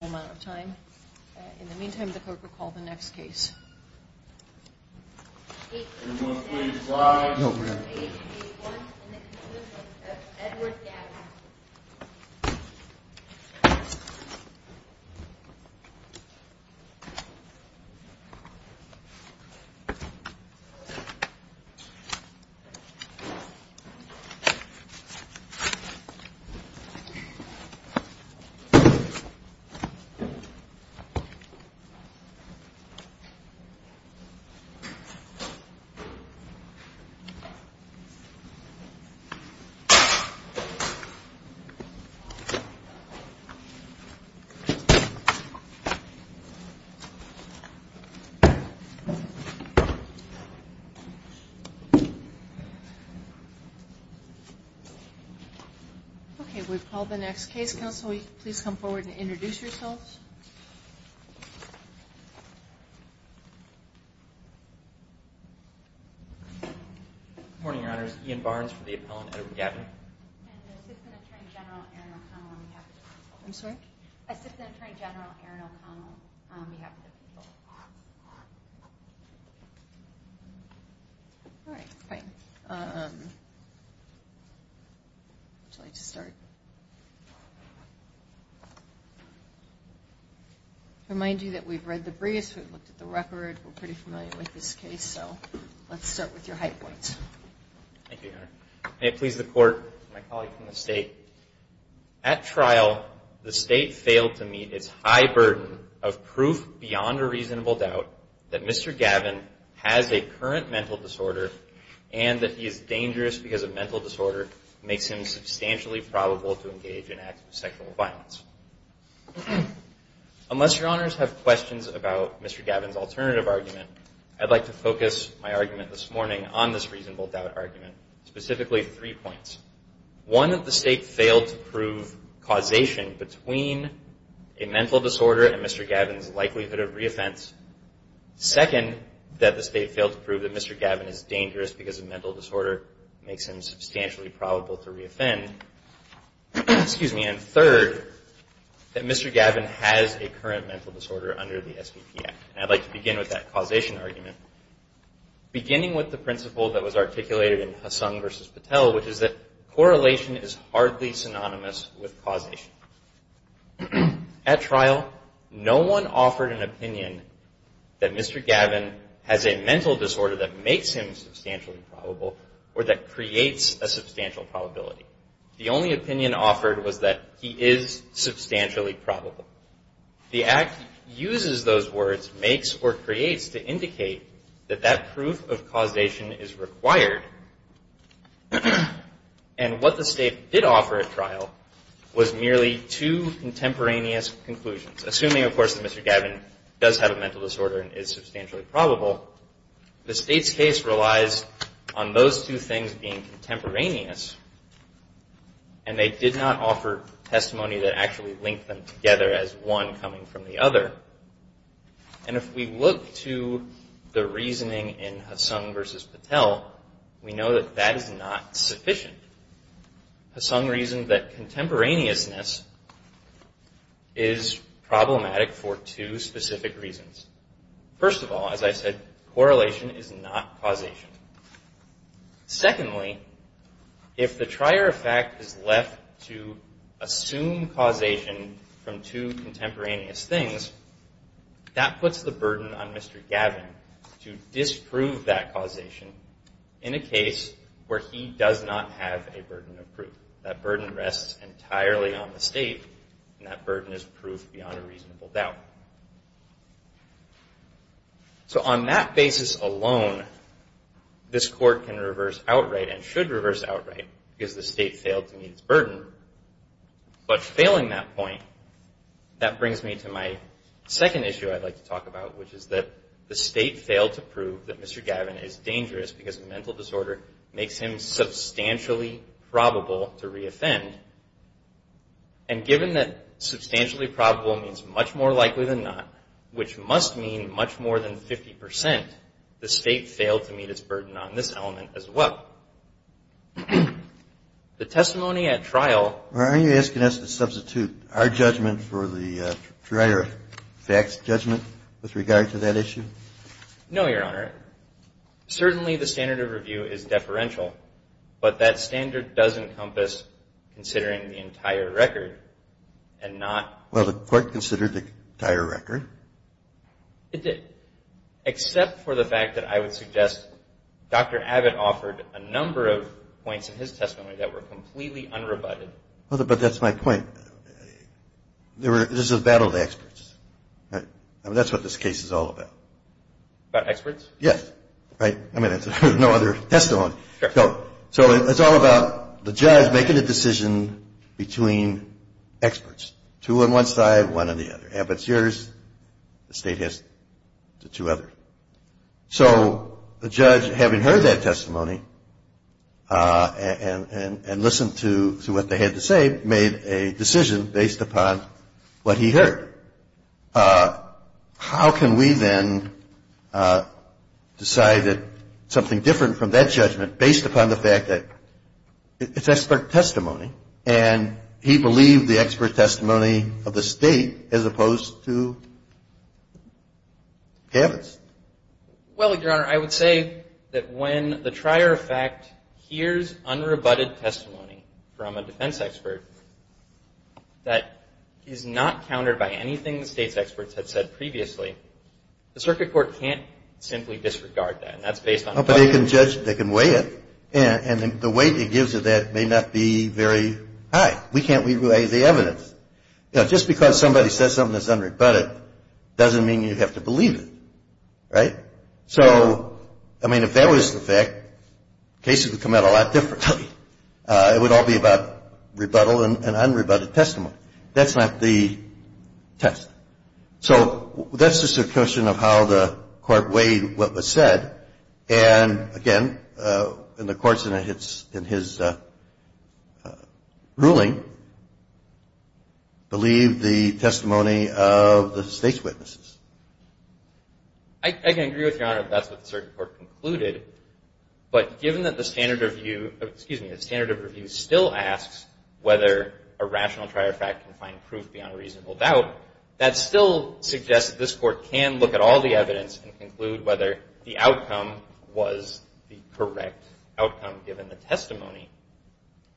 amount of time. In the meantime, the court will call the next case. It was Edward. Mhm. Okay. We've called the next case. Council, please come forward and health. Morning, Your Honor's Ian Barnes for the appellant. I'm sorry. All right, fine. Would you like to start? Remind you that we've read the briefs. We've looked at the record. We're pretty familiar with this case. So let's start with your high points. Thank you, Your Honor. May it please the court, my colleague from the state. At trial, the state failed to meet its high burden of proof beyond a reasonable doubt that Mr. Gavin has a current mental disorder and that he is dangerous because a mental disorder makes him substantially probable to engage in acts of sexual violence. Unless your honors have questions about Mr. Gavin's alternative argument, I'd like to focus my argument this morning on this reasonable doubt argument, specifically three points. One of the state failed to prove causation between a mental disorder and Mr. Gavin's likelihood of reoffense. Second, that the state failed to prove that Mr. Gavin is dangerous because a mental disorder makes him substantially probable to reoffend. Excuse me. And third, that Mr. Gavin has a current mental disorder under the S.P.P. Act. And I'd like to begin with that causation argument, beginning with the principle that was articulated in Hassan versus Patel, which is that correlation is hardly synonymous with causation. At trial, no one offered an opinion that Mr. Gavin has a mental disorder that makes him substantially probable or that creates a substantial probability. The only opinion offered was that he is substantially probable. The Act uses those words, makes or creates, to indicate that that proof of causation is required. And what the state did offer at trial was merely two contemporaneous conclusions. Assuming, of course, that Mr. Gavin does have a mental disorder and is substantially probable, the state's case relies on those two things being contemporaneous, and they did not offer testimony that actually linked them together as one coming from the other. And if we look to the reasoning in Hassan versus Patel, we know that that is not sufficient. Hassan reasoned that contemporaneousness is problematic for two specific reasons. First of all, as I said, correlation is not causation. Secondly, if the trier of fact is left to assume causation from two contemporaneous things, that puts the burden on Mr. Gavin to disprove that causation in a case where he does not have a burden of proof. That burden rests entirely on the state, and that burden is proof beyond a reasonable doubt. So on that basis alone, this Court can reverse outright, and should reverse outright, because the state failed to meet its burden. But failing that point, that brings me to my second issue I'd like to talk about, which is that the state failed to prove that Mr. Gavin is dangerous because a mental disorder makes him substantially probable to reoffend. And given that substantially probable means much more likely than not, which must mean much more than 50 percent, the state failed to meet its burden on this element as well. The testimony at trial are you asking us to substitute our judgment for the trier of fact's judgment with regard to that issue? No, Your Honor. Certainly the standard of review is deferential, but that standard does encompass considering the entire record and not Well, the Court considered the entire record. It did, except for the fact that I would suggest Dr. Abbott offered a number of points in his testimony that were completely unrebutted. But that's my point. There's a battle of experts. That's what this case is all about. About experts? Yes. Right? I mean, there's no other testimony. So it's all about the judge making a decision between experts, two on one side, one on the other. Abbott's yours. The state has the two others. So the judge, having heard that testimony and listened to what they had to say, made a decision based upon what he heard. How can we then decide that something different from that judgment based upon the fact that it's expert testimony, and he believed the expert testimony of the state as opposed to Abbott's? Well, Your Honor, I would say that when the trier of fact hears unrebutted testimony from a defense expert that is not countered by any thing the state's experts had said previously, the Circuit Court can't simply disregard that. And that's based on what they heard. But they can judge. They can weigh it. And the weight it gives to that may not be very high. We can't weigh the evidence. You know, just because somebody says something that's unrebutted doesn't mean you have to believe it. Right? So, I mean, if that was the fact, cases would come out a lot differently. It would all be about rebuttal and unrebutted testimony. That's not the test. So that's just a question of how the court weighed what was said. And, again, in the courts in his ruling, believe the testimony of the state's witnesses. I can agree with Your Honor that that's what the Circuit Court concluded. But given that the standard of review still asks whether a rational trier of fact can find proof beyond a reasonable doubt, that still suggests that this court can look at all the evidence and conclude whether the outcome was the correct outcome, given the testimony.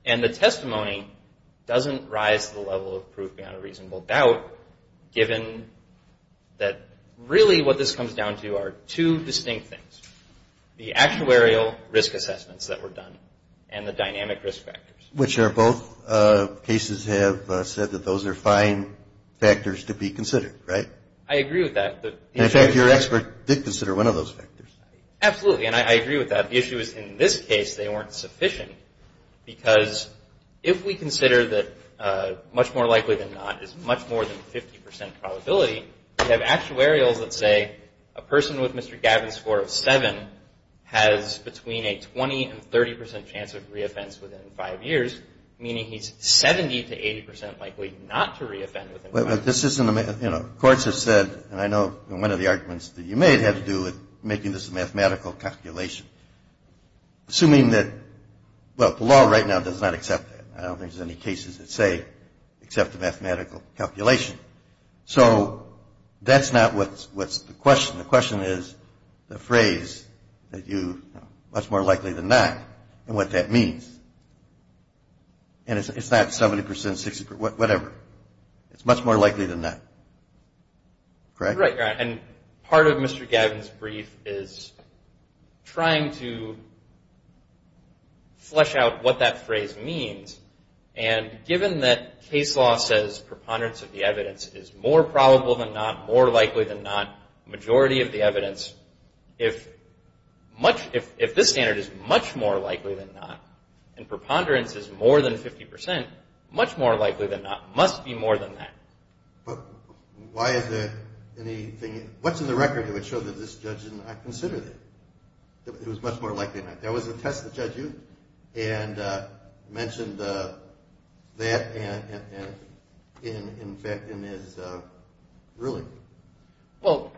And the testimony doesn't rise to the level of proof beyond a reasonable doubt, given that really what this comes down to are two distinct things. The actuarial risk assessments that were done and the dynamic risk factors. Which are both cases have said that those are fine factors to be considered. Right? I agree with that. In fact, your expert did consider one of those factors. Absolutely. And I agree with that. The issue is in this case they weren't sufficient because if we consider that much more likely than not is much more than 50% probability, we have actuarials that say a person with Mr. Gavin's score of 7 has between a 20 and 30% chance of reoffense within 5 years, meaning he's 70 to 80% likely not to reoffend within 5 years. But this isn't a, you know, courts have said, and I know one of the arguments that you made had to do with making this a mathematical calculation. Assuming that, well, the law right now does not accept that. I don't think there's any cases that say except a mathematical calculation. So that's not what's the question. The question is the phrase that you, much more likely than not, and what that means. And it's not 70%, 60%, whatever. It's much more likely than not. Correct? Right. And part of Mr. Gavin's brief is trying to flesh out what that phrase means. And given that case law says preponderance of the evidence is more probable than not, more likely than not, majority of the evidence, if this standard is much more likely than not, and preponderance is more than 50%, much more likely than not, must be more than that. But why is there anything, what's in the record that would show that this judge did not consider that? It was much more likely than not. That was a test that Judge Ute mentioned that in his ruling. Well,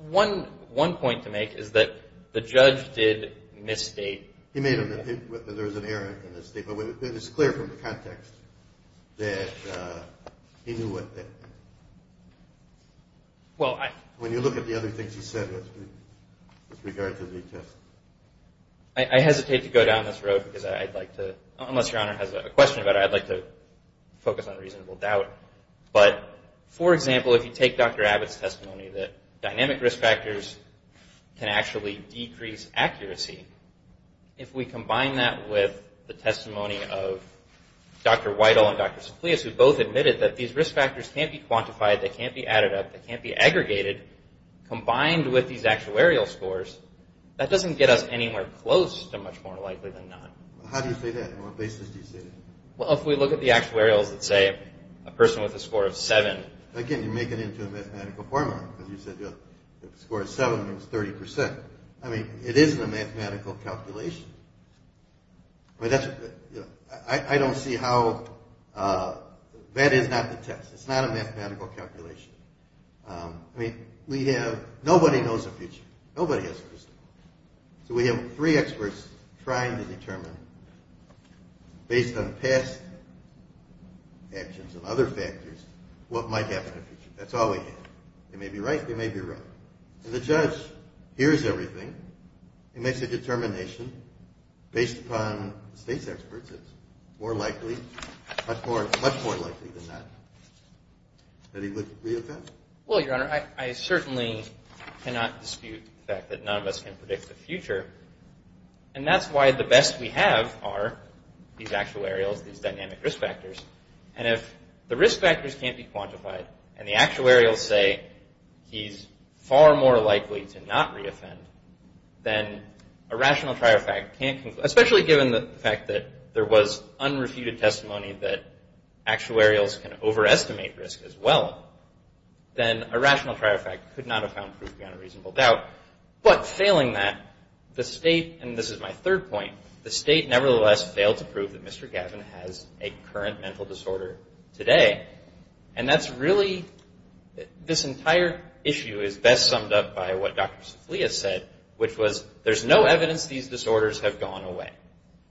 one point to make is that the judge did misstate. He made a mistake. There was an error in his statement. But it's clear from the context that he knew what that meant. When you look at the other things he said with regard to the test. I hesitate to go down this road because I'd like to, unless Your Honor has a question about it, I'd like to focus on reasonable doubt. But, for example, if you take Dr. Abbott's testimony that dynamic risk factors can actually decrease accuracy, if we combine that with the testimony of Dr. Whitehall and Dr. Soflius, who both admitted that these risk factors can't be quantified, they can't be added up, they can't be aggregated, combined with these actuarial scores, that doesn't get us anywhere close to much more likely than not. How do you say that? On what basis do you say that? Well, if we look at the actuarials that say a person with a score of 7. Again, you're making it into a mathematical formula. You said the score of 7 was 30%. I mean, it isn't a mathematical calculation. I mean, that's, you know, I don't see how, that is not the test. It's not a mathematical calculation. I mean, we have, nobody knows the future. Nobody has a crystal ball. So we have three experts trying to determine, based on past actions and other factors, what might happen in the future. That's all we have. They may be right, they may be wrong. And the judge hears everything. He makes a determination. Based upon the state's experts, it's more likely, much more likely than not, that he would reoffend. Well, Your Honor, I certainly cannot dispute the fact that none of us can predict the future. And that's why the best we have are these actuarials, these dynamic risk factors. And if the risk factors can't be quantified, and the actuarials say he's far more likely to not reoffend, then a rational trier fact can't conclude, especially given the fact that there was unrefuted testimony that actuarials can overestimate risk as well, then a rational trier fact could not have found proof beyond a reasonable doubt. But failing that, the state, and this is my third point, the state, nevertheless, failed to prove that Mr. Gavin has a current mental disorder today. And that's really, this entire issue is best summed up by what Dr. Safliya said, which was, there's no evidence these disorders have gone away.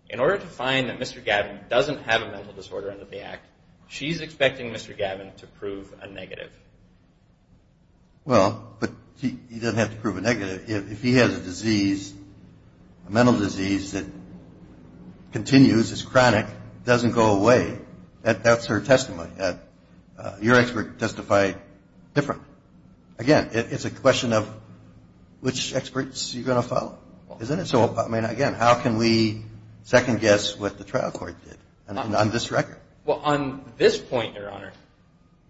In order to find that Mr. Gavin doesn't have a mental disorder under the act, she's expecting Mr. Gavin to prove a negative. If he has a disease, a mental disease that continues, is chronic, doesn't go away, that's her testimony. Your expert testified different. Again, it's a question of which experts you're going to follow, isn't it? So, I mean, again, how can we second guess what the trial court did on this record? Well, on this point, Your Honor,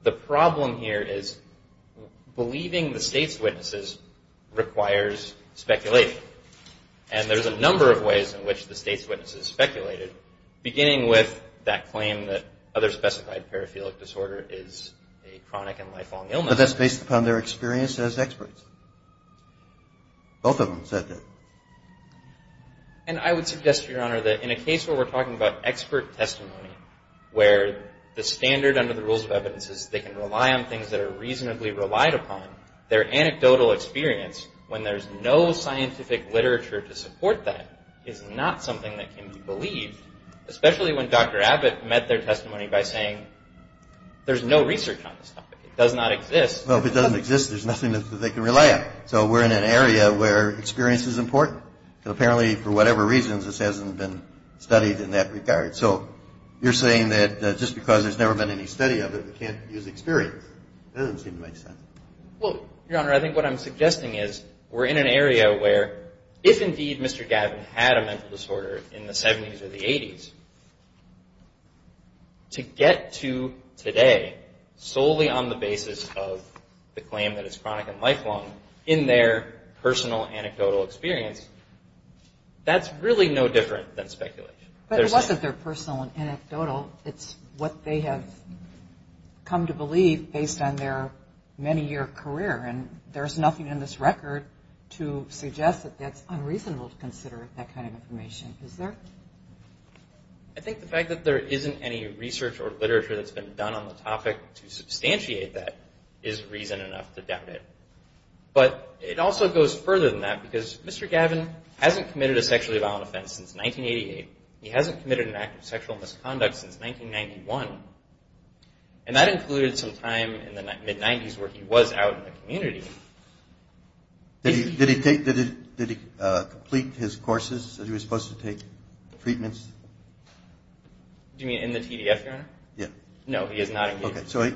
the problem here is believing the state's witnesses requires speculation. And there's a number of ways in which the state's witnesses speculated, beginning with that claim that other specified paraphilic disorder is a chronic and lifelong illness. But that's based upon their experience as experts. Both of them said that. And I would suggest, Your Honor, that in a case where we're talking about expert testimony, where the standard under the rules of evidence is they can rely on things that are reasonably relied upon, their anecdotal experience, when there's no scientific literature to support that, is not something that can be believed. Especially when Dr. Abbott met their testimony by saying, there's no research on this topic. It does not exist. Well, if it doesn't exist, there's nothing that they can rely on. Right. So we're in an area where experience is important. And apparently, for whatever reasons, this hasn't been studied in that regard. So you're saying that just because there's never been any study of it, we can't use experience. That doesn't seem to make sense. Well, Your Honor, I think what I'm suggesting is we're in an area where, if indeed Mr. Gavin had a mental disorder in the 70s or the 80s, to get to today solely on the basis of the claim that it's chronic and lifelong, in their personal anecdotal experience, that's really no different than speculation. But it wasn't their personal and anecdotal. It's what they have come to believe based on their many-year career. And there's nothing in this record to suggest that that's unreasonable to consider that kind of information. Is there? I think the fact that there isn't any research or literature that's been done on the topic to substantiate that is reason enough to doubt it. But it also goes further than that because Mr. Gavin hasn't committed a sexually violent offense since 1988. He hasn't committed an act of sexual misconduct since 1991. And that included some time in the mid-90s where he was out in the community. Did he complete his courses that he was supposed to take, treatments? Do you mean in the TDF, Your Honor? Yeah. No, he is not included. Okay. So, I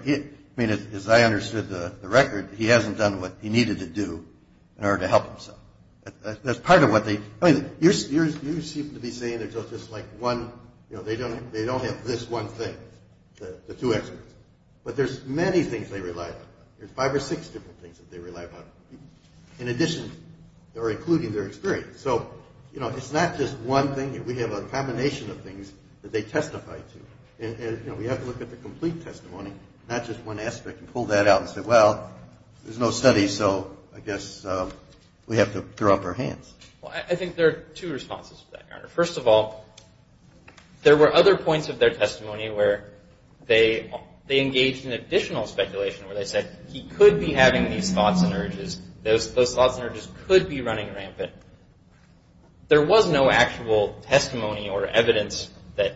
mean, as I understood the record, he hasn't done what he needed to do in order to help himself. That's part of what they – I mean, you seem to be saying there's just like one – you know, they don't have this one thing, the two experts. But there's many things they relied on. There's five or six different things that they relied on in addition or including their experience. So, you know, it's not just one thing. We have a combination of things that they testify to. And, you know, we have to look at the complete testimony, not just one aspect, and pull that out and say, well, there's no study, so I guess we have to throw up our hands. Well, I think there are two responses to that, Your Honor. First of all, there were other points of their testimony where they engaged in additional speculation where they said he could be having these thoughts and urges. Those thoughts and urges could be running rampant. There was no actual testimony or evidence that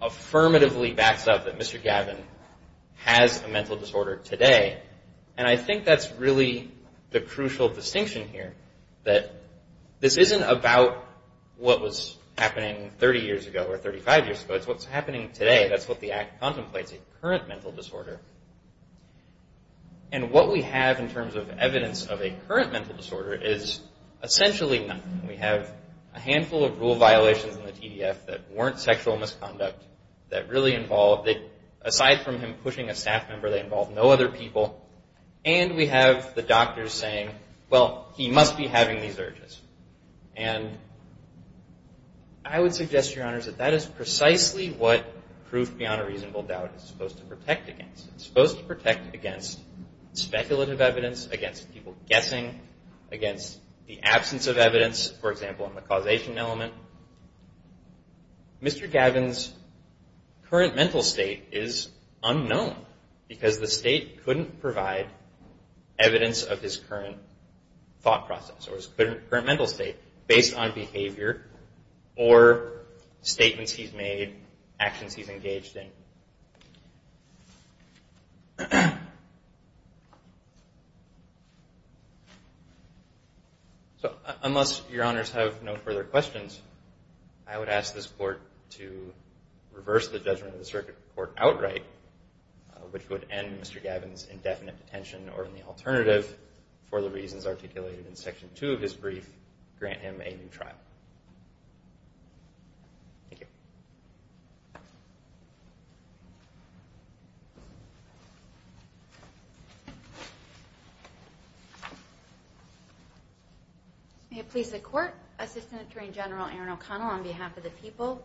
affirmatively backs up that Mr. Gavin has a mental disorder today. And I think that's really the crucial distinction here, that this isn't about what was happening 30 years ago or 35 years ago. It's what's happening today. That's what the act contemplates, a current mental disorder. And what we have in terms of evidence of a current mental disorder is essentially nothing. We have a handful of rule violations in the TDF that weren't sexual misconduct, that really involved, aside from him pushing a staff member, they involved no other people. And we have the doctors saying, well, he must be having these urges. And I would suggest, Your Honors, that that is precisely what proof beyond a reasonable doubt is supposed to protect against. It's supposed to protect against speculative evidence, against people guessing, against the absence of evidence, for example, on the causation element. Mr. Gavin's current mental state is unknown because the state couldn't provide evidence of his current thought process or his current mental state based on behavior or statements he's made, actions he's engaged in. So unless Your Honors have no further questions, I would ask this Court to reverse the judgment of the Circuit Court outright, which would end Mr. Gavin's indefinite detention or, in the alternative, for the reasons articulated in Section 2 of his brief, grant him a new trial. Thank you. May it please the Court, Assistant Attorney General Erin O'Connell on behalf of the people.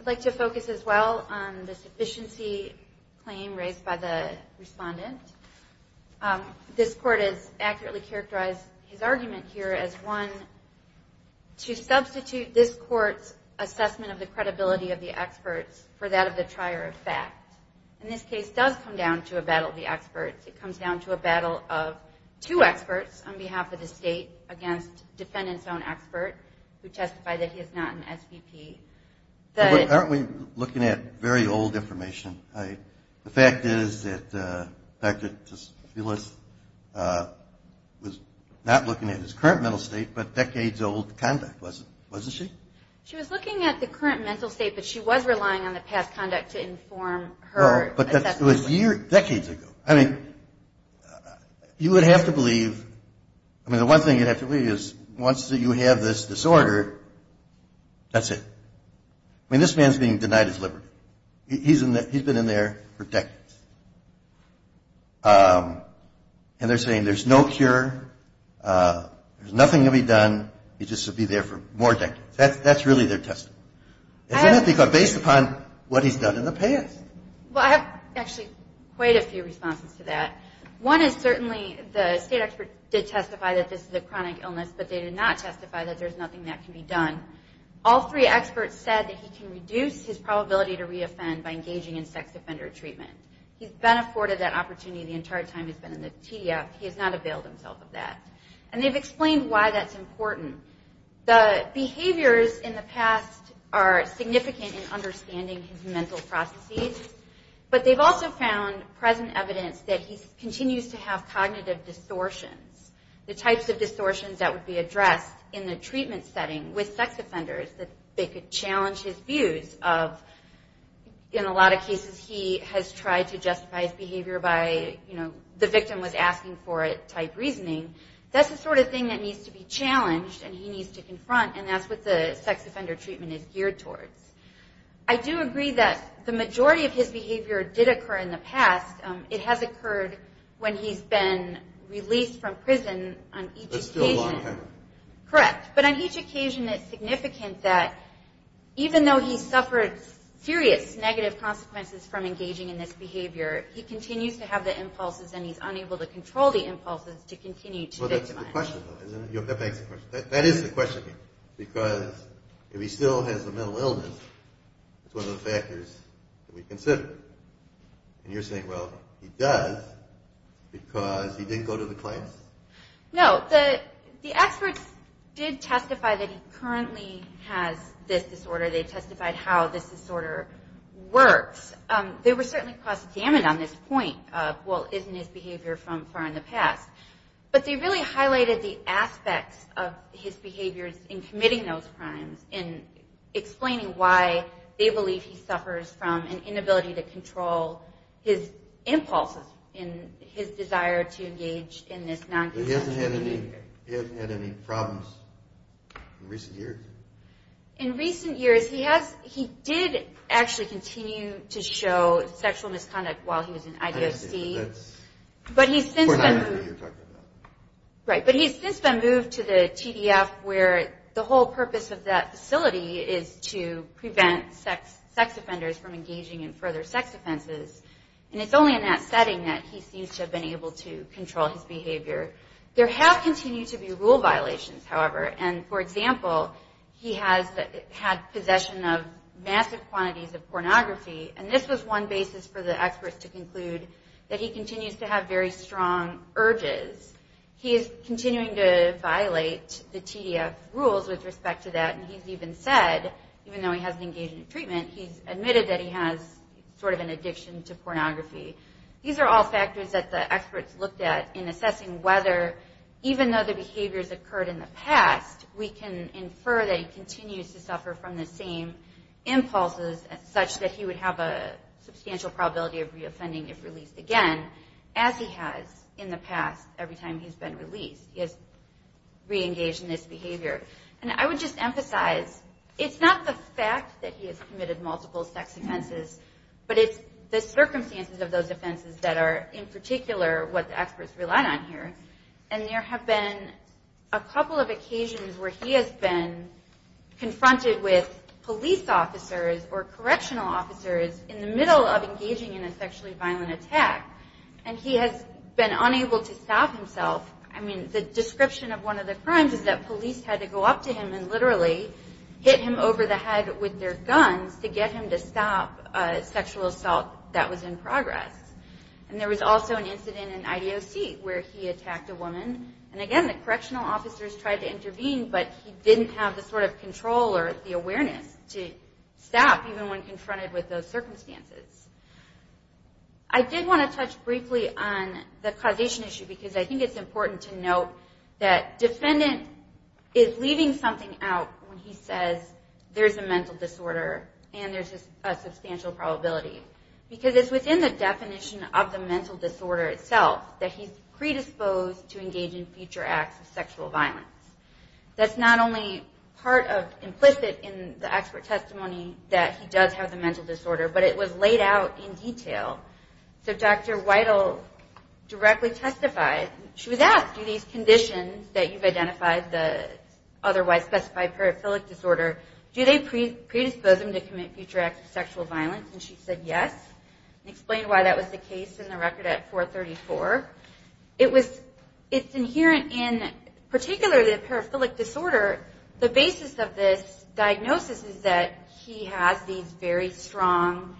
I'd like to focus as well on the sufficiency claim raised by the respondent. This Court has accurately characterized his argument here as one to substitute this Court's assessment of the credibility of the experts for that of the trier of fact. And this case does come down to a battle of the experts. It comes down to a battle of two experts on behalf of the state against the defendant's own expert, who testified that he is not an SVP. Aren't we looking at very old information? The fact is that Dr. Desfilis was not looking at his current mental state but decades-old conduct, wasn't she? She was looking at the current mental state, but she was relying on the past conduct to inform her assessment. But that was decades ago. I mean, you would have to believe, I mean, the one thing you'd have to believe is once you have this disorder, that's it. I mean, this man's being denied his liberty. He's been in there for decades. And they're saying there's no cure, there's nothing to be done, he'll just be there for more decades. That's really their testimony. Isn't it? Based upon what he's done in the past. Well, I have actually quite a few responses to that. One is certainly the state expert did testify that this is a chronic illness, but they did not testify that there's nothing that can be done. All three experts said that he can reduce his probability to re-offend by engaging in sex offender treatment. He's been afforded that opportunity the entire time he's been in the TDF. He has not availed himself of that. And they've explained why that's important. The behaviors in the past are significant in understanding his mental processes. But they've also found present evidence that he continues to have cognitive distortions. The types of distortions that would be addressed in the treatment setting with sex offenders, that they could challenge his views of, in a lot of cases, he has tried to justify his behavior by, you know, the victim was asking for it type reasoning. That's the sort of thing that needs to be challenged and he needs to confront, and that's what the sex offender treatment is geared towards. I do agree that the majority of his behavior did occur in the past. It has occurred when he's been released from prison on each occasion. That's still a long time. Correct. But on each occasion it's significant that even though he suffered serious negative consequences from engaging in this behavior, he continues to have the impulses and he's unable to control the impulses to continue to victimize. Well, that's the question, though, isn't it? That begs the question. That is the question. Because if he still has a mental illness, it's one of the factors that we consider. And you're saying, well, he does because he didn't go to the clinics? No. The experts did testify that he currently has this disorder. They testified how this disorder works. They were certainly cross-examined on this point of, well, isn't his behavior from far in the past. But they really highlighted the aspects of his behaviors in committing those crimes and explaining why they believe he suffers from an inability to control his impulses and his desire to engage in this non-consensual behavior. But he hasn't had any problems in recent years? In recent years, he did actually continue to show sexual misconduct while he was in IDFC. But he's since been moved to the TDF where the whole purpose of that facility is to prevent sex offenders from engaging in further sex offenses. And it's only in that setting that he seems to have been able to control his behavior. There have continued to be rule violations, however. And, for example, he has had possession of massive quantities of pornography. And this was one basis for the experts to conclude that he continues to have very strong urges. He is continuing to violate the TDF rules with respect to that. And he's even said, even though he hasn't engaged in treatment, he's admitted that he has sort of an addiction to pornography. These are all factors that the experts looked at in assessing whether, even though the behaviors occurred in the past, we can infer that he continues to suffer from the same impulses, such that he would have a substantial probability of re-offending if released again, as he has in the past every time he's been released. He has re-engaged in this behavior. And I would just emphasize, it's not the fact that he has committed multiple sex offenses, but it's the circumstances of those offenses that are, in particular, what the experts relied on here. And there have been a couple of occasions where he has been confronted with police officers or correctional officers in the middle of engaging in a sexually violent attack. And he has been unable to stop himself. I mean, the description of one of the crimes is that police had to go up to him and literally hit him over the head with their guns to get him to stop a sexual assault that was in progress. And there was also an incident in IDOC where he attacked a woman. And again, the correctional officers tried to intervene, but he didn't have the sort of control or the awareness to stop, even when confronted with those circumstances. I did want to touch briefly on the causation issue, because I think it's important to note that defendant is leaving something out when he says there's a mental disorder and there's a substantial probability. Because it's within the definition of the mental disorder itself that he's predisposed to engage in future acts of sexual violence. That's not only part of implicit in the expert testimony that he does have the mental disorder, but it was laid out in detail. So Dr. Weidel directly testified. She was asked, do these conditions that you've identified, the otherwise specified paraphilic disorder, do they predispose him to commit future acts of sexual violence? And she said yes and explained why that was the case in the record at 434. It's inherent in particularly the paraphilic disorder. The basis of this diagnosis is that he has these very strong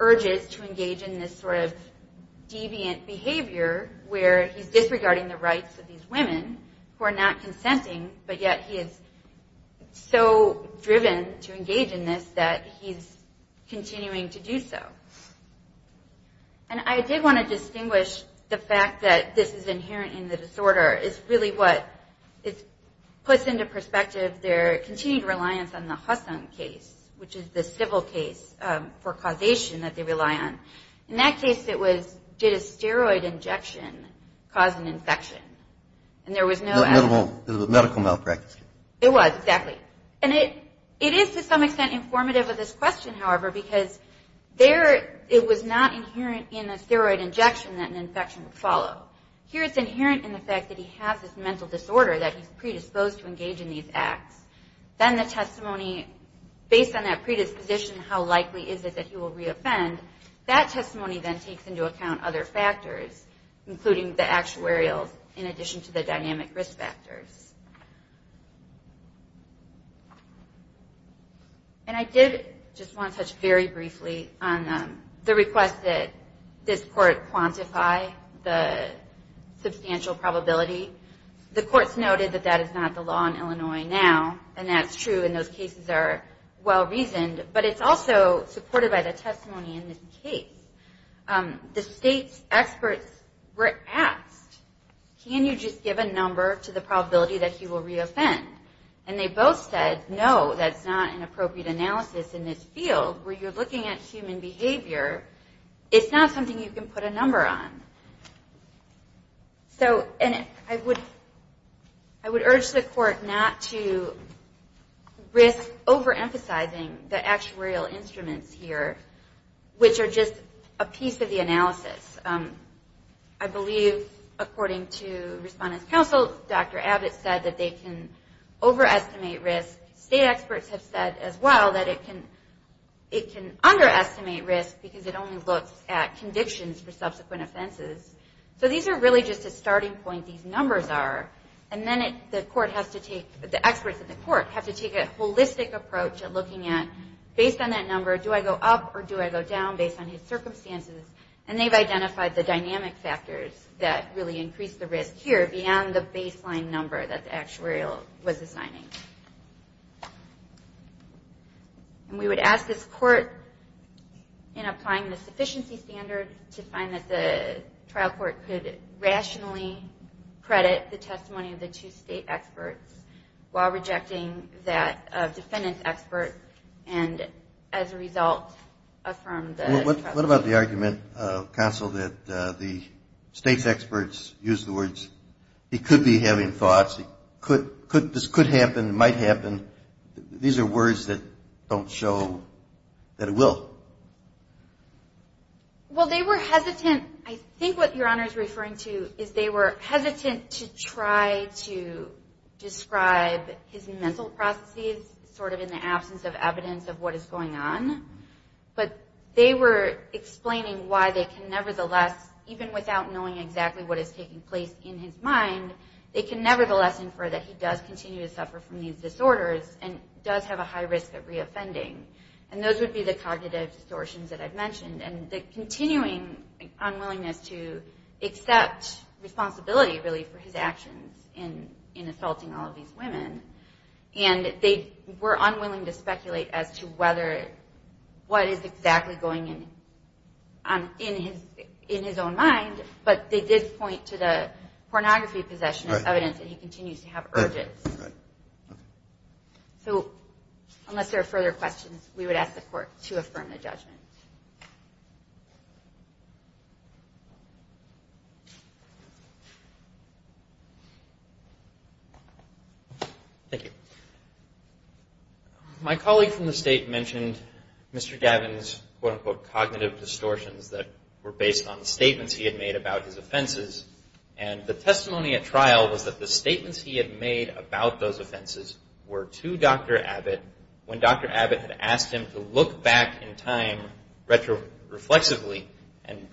urges to engage in this sort of deviant behavior where he's disregarding the rights of these women who are not consenting, but yet he is so driven to engage in this that he's continuing to do so. And I did want to distinguish the fact that this is inherent in the disorder. It's really what puts into perspective their continued reliance on the Husson case, which is the civil case for causation that they rely on. In that case it was, did a steroid injection cause an infection? Is it a medical malpractice? It was, exactly. And it is to some extent informative of this question, however, because it was not inherent in a steroid injection that an infection would follow. Here it's inherent in the fact that he has this mental disorder that he's predisposed to engage in these acts. Then the testimony, based on that predisposition, how likely is it that he will reoffend, that testimony then takes into account other factors, including the actuarials in addition to the dynamic risk factors. And I did just want to touch very briefly on the request that this court quantify the substantial probability. The court's noted that that is not the law in Illinois now, and that's true and those cases are well-reasoned, but it's also supported by the testimony in this case. The state's experts were asked, can you just give a number to the probability that he will reoffend? And they both said, no, that's not an appropriate analysis in this field where you're looking at human behavior. It's not something you can put a number on. So I would urge the court not to risk overemphasizing the actuarial instruments here, which are just a piece of the analysis. I believe, according to Respondent's Counsel, Dr. Abbott said that they can overestimate risk. State experts have said as well that it can underestimate risk because it only looks at convictions for subsequent offenses. So these are really just a starting point, these numbers are. And then the experts in the court have to take a holistic approach at looking at, based on that number, do I go up or do I go down based on his circumstances? And they've identified the dynamic factors that really increase the risk here beyond the baseline number that the actuarial was assigning. And we would ask this court, in applying the sufficiency standard, to find that the trial court could rationally credit the testimony of the two state experts while rejecting that defendant's expert and, as a result, affirm the trust. What about the argument, Counsel, that the state's experts use the words, he could be having thoughts, this could happen, it might happen, these are words that don't show that it will? Well, they were hesitant. I think what Your Honor is referring to is they were hesitant to try to describe his mental processes sort of in the absence of evidence of what is going on, but they were explaining why they can nevertheless, infer that he does continue to suffer from these disorders and does have a high risk of reoffending. And those would be the cognitive distortions that I've mentioned and the continuing unwillingness to accept responsibility, really, for his actions in assaulting all of these women. And they were unwilling to speculate as to what is exactly going on in his own mind, but they did point to the pornography possession as evidence that he continues to have urges. So unless there are further questions, we would ask the Court to affirm the judgment. Thank you. My colleague from the State mentioned Mr. Gavin's quote-unquote cognitive distortions that were based on the statements he had made about his offenses. And the testimony at trial was that the statements he had made about those offenses were to Dr. Abbott when Dr. Abbott had asked him to look back in time retroflexively and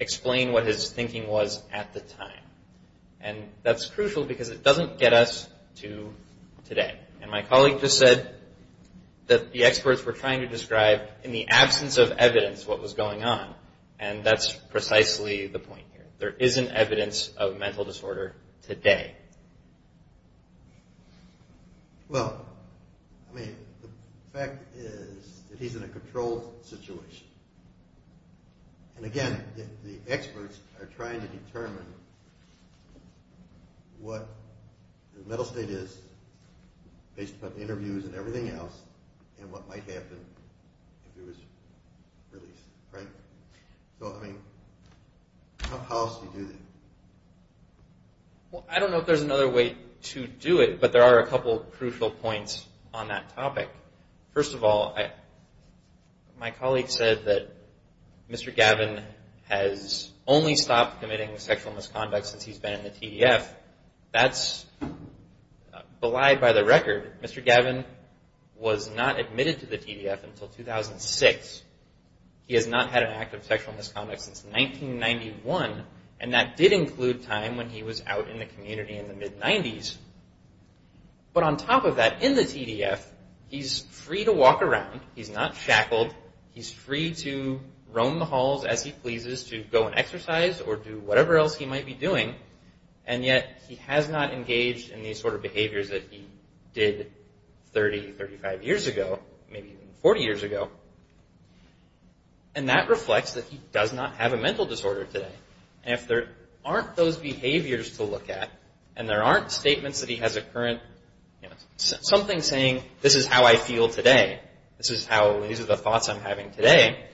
explain what his thinking was at the time. And that's crucial because it doesn't get us to today. And my colleague just said that the experts were trying to describe, in the absence of evidence, what was going on. And that's precisely the point here. There isn't evidence of mental disorder today. Well, I mean, the fact is that he's in a controlled situation. And again, the experts are trying to determine what the mental state is based upon interviews and everything else and what might happen if it was released. So, I mean, how else do you do that? Well, I don't know if there's another way to do it, but there are a couple of crucial points on that topic. First of all, my colleague said that Mr. Gavin has only stopped committing sexual misconduct since he's been in the TDF. That's belied by the record. Mr. Gavin was not admitted to the TDF until 2006. He has not had an act of sexual misconduct since 1991. And that did include time when he was out in the community in the mid-90s. But on top of that, in the TDF, he's free to walk around. He's not shackled. He's free to roam the halls as he pleases to go and exercise or do whatever else he might be doing. And yet, he has not engaged in these sort of behaviors that he did 30, 35 years ago, maybe even 40 years ago. And that reflects that he does not have a mental disorder today. And if there aren't those behaviors to look at, and there aren't statements that he has a current, you know, something saying, this is how I feel today, this is how, these are the thoughts I'm having today,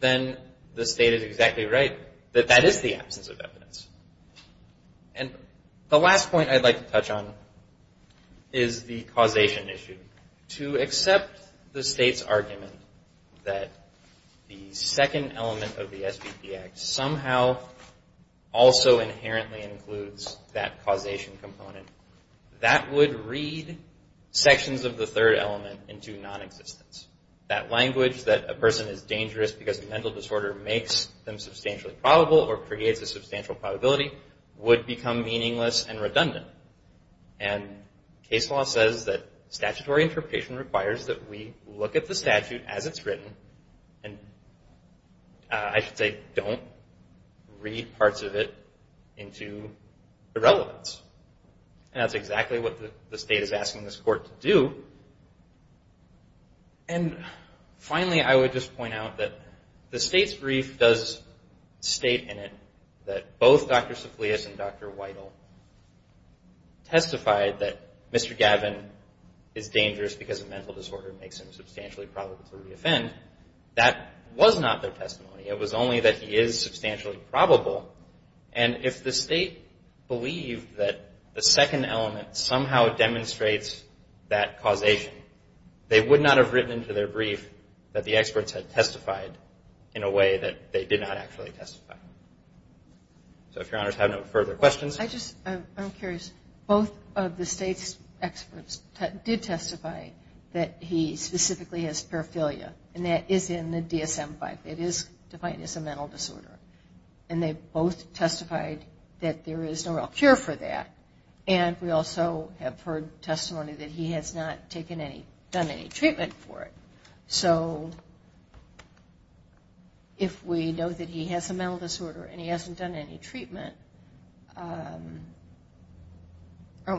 then the state is exactly right that that is the absence of evidence. And the last point I'd like to touch on is the causation issue. To accept the state's argument that the second element of the SBP Act somehow also inherently includes that causation component, that would read sections of the third element into nonexistence. That language, that a person is dangerous because a mental disorder makes them substantially probable or creates a substantial probability, would become meaningless and redundant. And case law says that statutory interpretation requires that we look at the statute as it's written and, I should say, don't read parts of it into irrelevance. And that's exactly what the state is asking this court to do. And finally, I would just point out that the state's brief does state in it that both Dr. Saflius and Dr. Weidel testified that Mr. Gavin is dangerous because a mental disorder makes him substantially probable to re-offend. That was not their testimony. It was only that he is substantially probable. And if the state believed that the second element somehow demonstrates that causation, they would not have written into their brief that the experts had testified in a way that they did not actually testify. So if your honors have no further questions. I'm curious. Both of the state's experts did testify that he specifically has paraphilia, and that is in the DSM-V. It is defined as a mental disorder. And they both testified that there is no real cure for that. And we also have heard testimony that he has not done any treatment for it. So if we know that he has a mental disorder and he hasn't done any treatment, aren't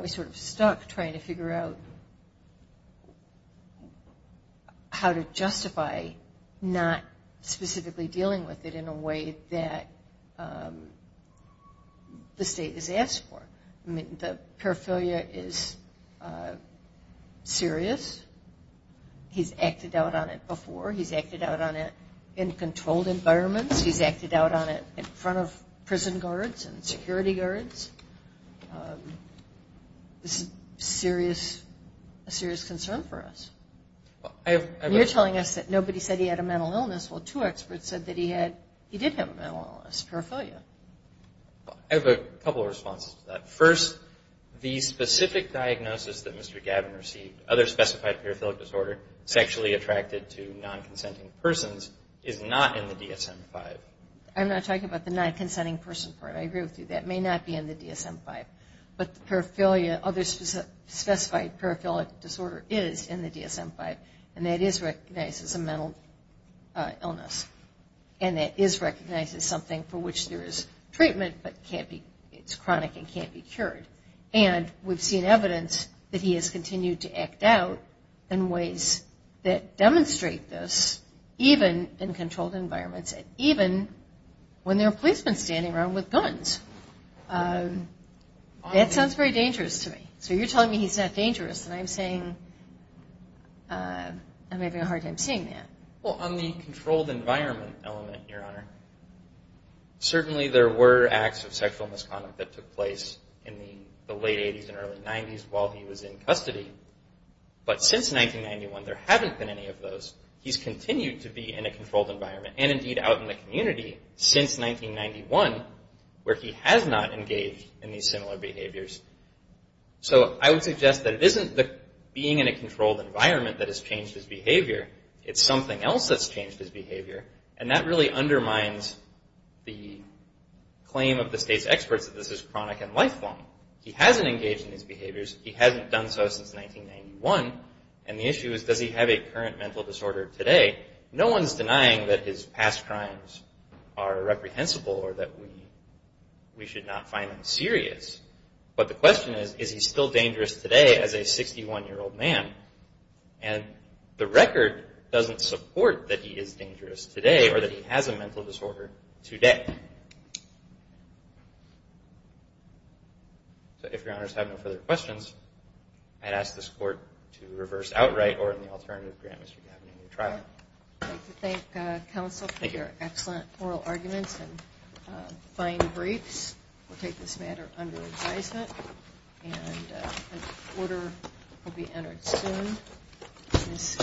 we sort of stuck trying to figure out how to justify not specifically dealing with it in a way that the state has asked for? I mean, the paraphilia is serious. He's acted out on it before. He's acted out on it in controlled environments. He's acted out on it in front of prison guards and security guards. This is a serious concern for us. You're telling us that nobody said he had a mental illness. Well, two experts said that he did have a mental illness, paraphilia. I have a couple of responses to that. First, the specific diagnosis that Mr. Gavin received, other specified paraphilic disorder, sexually attracted to non-consenting persons, is not in the DSM-V. I'm not talking about the non-consenting person part. I agree with you. That may not be in the DSM-V. But the paraphilia, other specified paraphilic disorder, is in the DSM-V, and that is recognized as a mental illness. And that is recognized as something for which there is treatment, but it's chronic and can't be cured. And we've seen evidence that he has continued to act out in ways that demonstrate this, even in controlled environments, and even when there are policemen standing around with guns. That sounds very dangerous to me. So you're telling me he's not dangerous, and I'm saying I'm having a hard time seeing that. Well, on the controlled environment element, Your Honor, certainly there were acts of sexual misconduct that took place in the late 80s and early 90s while he was in custody. But since 1991, there haven't been any of those. He's continued to be in a controlled environment, and indeed out in the community, since 1991, where he has not engaged in these similar behaviors. So I would suggest that it isn't being in a controlled environment that has changed his behavior. It's something else that's changed his behavior, and that really undermines the claim of the State's experts that this is chronic and lifelong. He hasn't engaged in these behaviors. He hasn't done so since 1991. And the issue is, does he have a current mental disorder today? No one's denying that his past crimes are reprehensible or that we should not find them serious. But the question is, is he still dangerous today as a 61-year-old man? And the record doesn't support that he is dangerous today or that he has a mental disorder today. So if Your Honors have no further questions, I'd ask this Court to reverse outright or in the alternative grant Mr. Gavin any trial. I'd like to thank counsel for your excellent oral arguments and fine briefs. We'll take this matter under advisement, and an order will be entered soon. This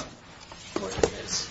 Court is adjourned.